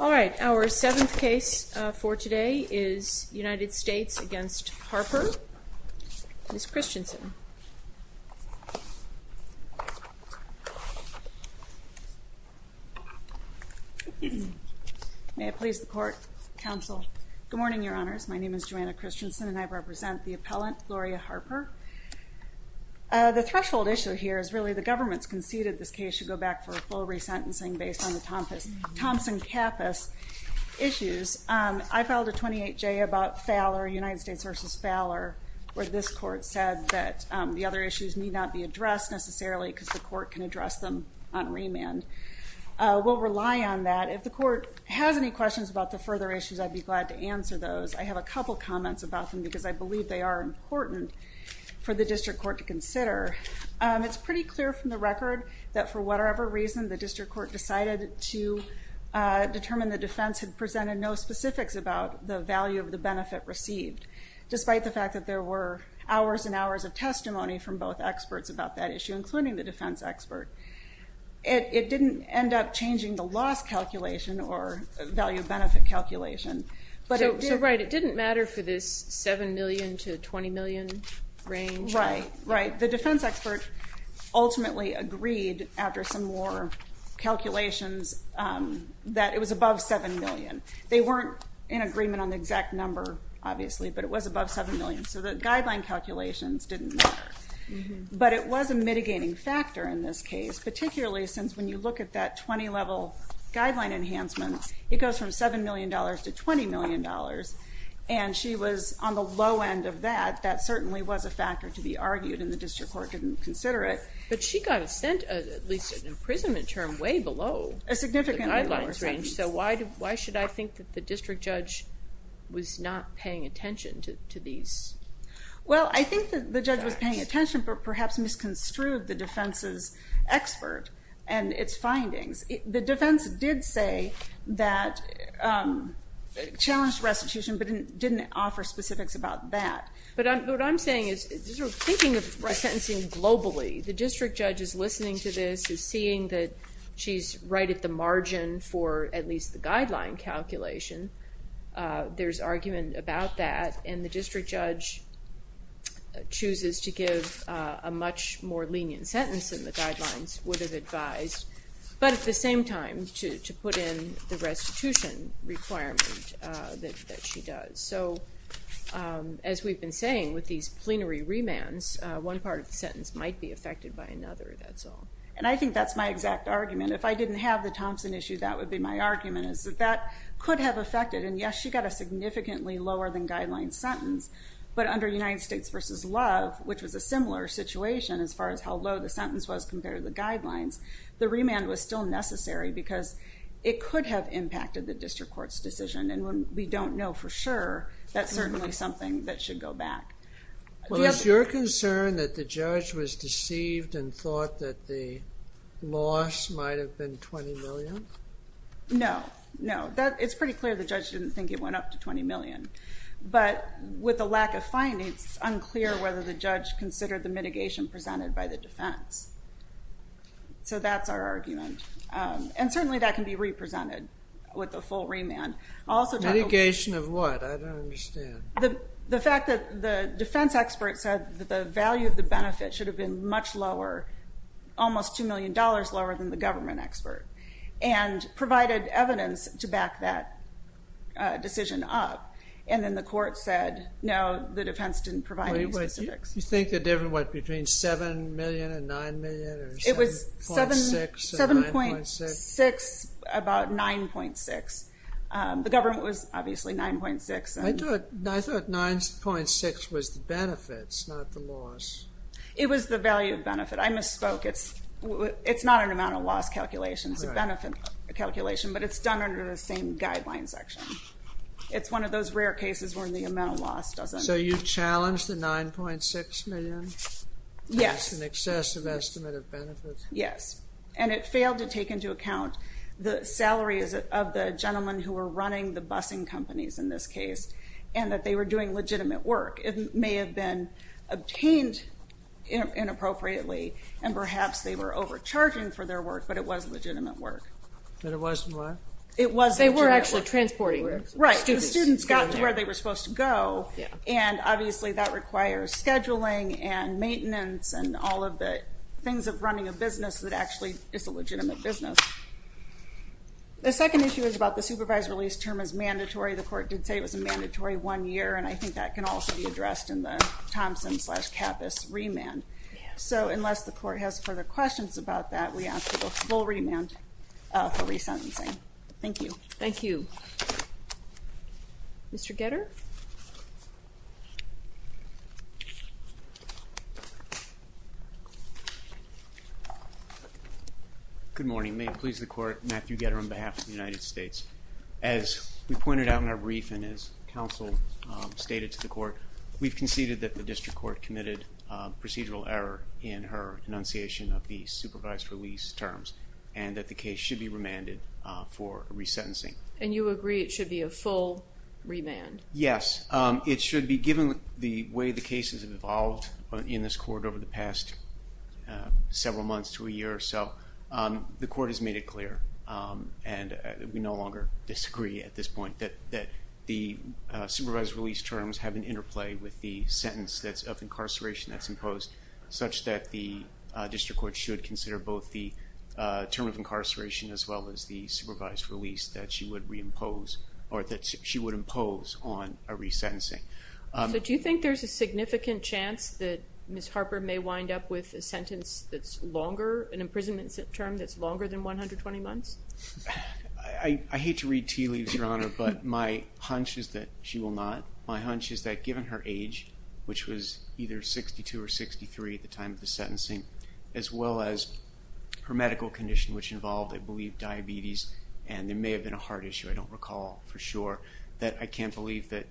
All right, our seventh case for today is United States v. Harper. Ms. Christensen. May it please the Court, Counsel. Good morning, Your Honors. My name is Joanna Christensen and I represent the appellant Gloria Harper. The threshold issue here is really the government's conceded this case should go back for a full re-sentencing based on the Thompson-Cappas issues. I filed a 28J about Fowler, United States v. Fowler, where this court said that the other issues need not be addressed necessarily because the court can address them on remand. We'll rely on that. If the court has any questions about the further issues, I'd be glad to I believe they are important for the district court to consider. It's pretty clear from the record that for whatever reason the district court decided to determine the defense had presented no specifics about the value of the benefit received, despite the fact that there were hours and hours of testimony from both experts about that issue, including the defense expert. It didn't end up changing the loss calculation or value-benefit calculation. So right, it didn't matter for this 7 million to 20 million range? Right, right. The defense expert ultimately agreed after some more calculations that it was above 7 million. They weren't in agreement on the exact number, obviously, but it was above 7 million. So the guideline calculations didn't matter. But it was a mitigating factor in this case, particularly since when you look at that 20 level guideline enhancement, it goes from 7 million dollars to 20 million dollars, and she was on the low end of that. That certainly was a factor to be argued and the district court didn't consider it. But she got a sent, at least an imprisonment term, way below a significant guidelines range. So why should I think that the district judge was not paying attention to these? Well, I think that the judge was paying attention, but perhaps misconstrued the findings. The defense did say that it challenged restitution, but it didn't offer specifics about that. But what I'm saying is, thinking of sentencing globally, the district judge is listening to this, is seeing that she's right at the margin for at least the guideline calculation. There's argument about that and the district judge chooses to give a much more lenient sentence than the But at the same time, to put in the restitution requirement that she does. So, as we've been saying with these plenary remands, one part of the sentence might be affected by another, that's all. And I think that's my exact argument. If I didn't have the Thompson issue, that would be my argument, is that that could have affected. And yes, she got a significantly lower than guidelines sentence, but under United States v. Love, which was a similar situation as far as how low the sentence was compared to the guidelines, the remand was still necessary because it could have impacted the district court's decision. And when we don't know for sure, that's certainly something that should go back. Was your concern that the judge was deceived and thought that the loss might have been $20 million? No, no. It's pretty clear the judge didn't think it went up to $20 million. But with the lack of findings, it's unclear whether the judge considered the mitigation presented by the defense. So that's our argument. And certainly that can be represented with the full remand. Mitigation of what? I don't understand. The fact that the defense expert said that the value of the benefit should have been much lower, almost $2 million lower than the government expert, and provided evidence to back that decision up, and then the court said, no, the defense didn't provide any specifics. You think the difference was between $7 million and $9 million? It was $7.6 million, about $9.6 million. The government was obviously $9.6 million. I thought $9.6 million was the benefits, not the loss. It was the value of benefit. I misspoke. It's not an amount of loss calculation. It's a benefit calculation, but it's done under the same guidelines section. It's one of those rare cases where the amount of loss doesn't... So you challenged the $9.6 million? Yes. That's an excessive estimate of benefits? Yes. And it failed to take into account the salaries of the gentlemen who were running the busing companies in this case, and that they were doing legitimate work. It may have been obtained inappropriately, and perhaps they were overcharging for their work. But it wasn't what? It wasn't. They were actually transporting. Right. The students got to where they were supposed to go, and obviously that requires scheduling, and maintenance, and all of the things of running a business that actually is a legitimate business. The second issue is about the supervised release term as mandatory. The court did say it was a mandatory one year, and I think that can also be addressed in the Thompson slash Kappus remand. So unless the court has further questions about that, we ask for the full remand for resentencing. Thank you. Thank you. Mr. Getter? Good morning. May it please the court, Matthew Getter on behalf of the United States. As we pointed out in our brief, and as counsel stated to the court, we've conceded that the district court committed procedural error in her enunciation of the supervised release terms, and that the case should be remanded for resentencing. And you agree it should be a full remand? Yes, it should be. Given the way the cases have evolved in this court over the past several months to a year or so, the court has made it clear, and we no longer disagree at this point, that the supervised release terms have an interplay with the sentence of incarceration that's imposed, such that the district court should consider both the term of incarceration as well as the supervised release that she would reimpose, or that she would impose on a resentencing. So do you think there's a significant chance that Ms. Harper may wind up with a sentence that's longer, an imprisonment term that's longer than 120 months? I hate to read tea leaves, Your Honor, but my hunch is that she will not. My hunch is that given her age, which was either 62 or 63 at the time of the sentencing, as well as her medical condition, which involved, I believe, diabetes, and there may have been a heart issue, I don't recall for sure, that I can't believe that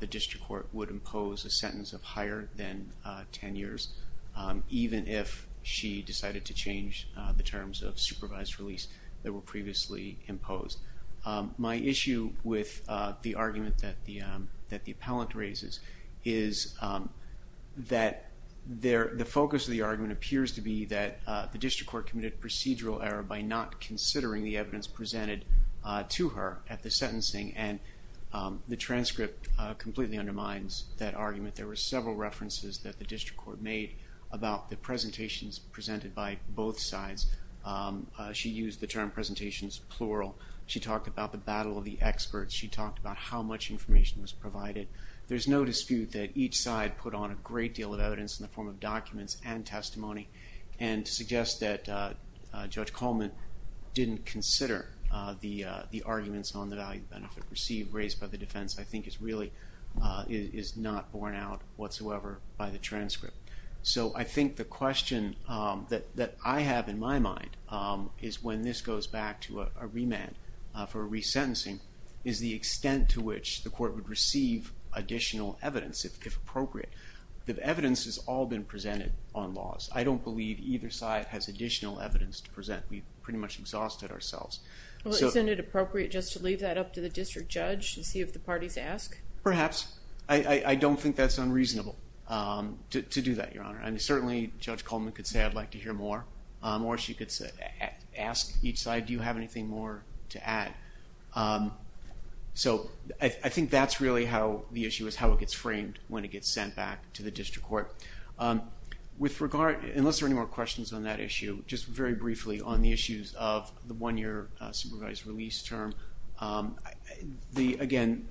the district court would impose a sentence of higher than 10 years, even if she decided to change the terms of supervised release that were previously imposed. My issue with the argument that the that the appellant raises is that the focus of the argument appears to be that the district court committed procedural error by not considering the evidence presented to her at the sentencing, and the transcript completely undermines that argument. There were several references that the district court made about the presentations plural. She talked about the battle of the experts. She talked about how much information was provided. There's no dispute that each side put on a great deal of evidence in the form of documents and testimony, and to suggest that Judge Coleman didn't consider the the arguments on the value-benefit received raised by the defense, I think is really, is not borne out whatsoever by the transcript. So I think the question that that I have in my mind is when this goes back to a remand for resentencing, is the extent to which the court would receive additional evidence, if appropriate. The evidence has all been presented on laws. I don't believe either side has additional evidence to present. We pretty much exhausted ourselves. Well isn't it appropriate just to leave that up to the district judge to see if the parties ask? Perhaps. I don't think that's unreasonable to do that, Your Honor, and certainly Judge Coleman could say I'd ask each side, do you have anything more to add? So I think that's really how the issue is, how it gets framed when it gets sent back to the district court. With regard, unless there any more questions on that issue, just very briefly on the issues of the one-year supervised release term, the, again,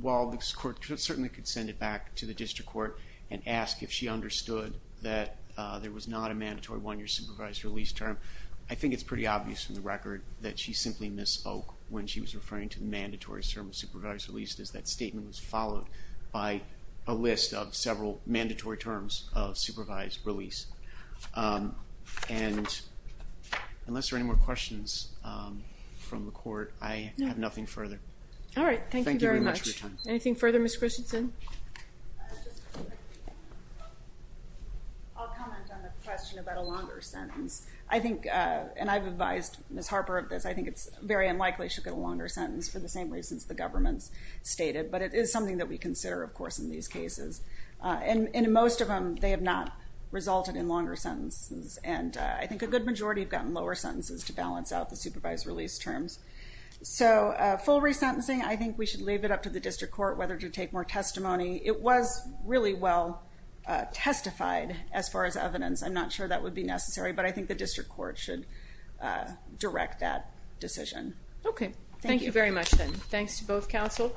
while this court certainly could send it back to the district court and ask if she understood that there was not a mandatory one-year supervised release term, I think it's pretty obvious from the record that she simply misspoke when she was referring to the mandatory term of supervised release, as that statement was followed by a list of several mandatory terms of supervised release. And unless there are any more questions from the court, I have nothing further. All right, thank you very much. Anything further, Ms. Christensen? I'll comment on the question about a longer sentence. I think, and I've advised Ms. Harper of this, I think it's very unlikely she'll get a longer sentence for the same reasons the government's stated, but it is something that we consider, of course, in these cases, and in most of them they have not resulted in longer sentences, and I think a good majority have gotten lower sentences to balance out the supervised release terms. So full resentencing, I think we should leave it up to the district court whether to take more testimony. It was really well testified as far as evidence. I'm not sure that would be necessary, but I think the district court should direct that decision. Okay, thank you very much then. Thanks to both counsel.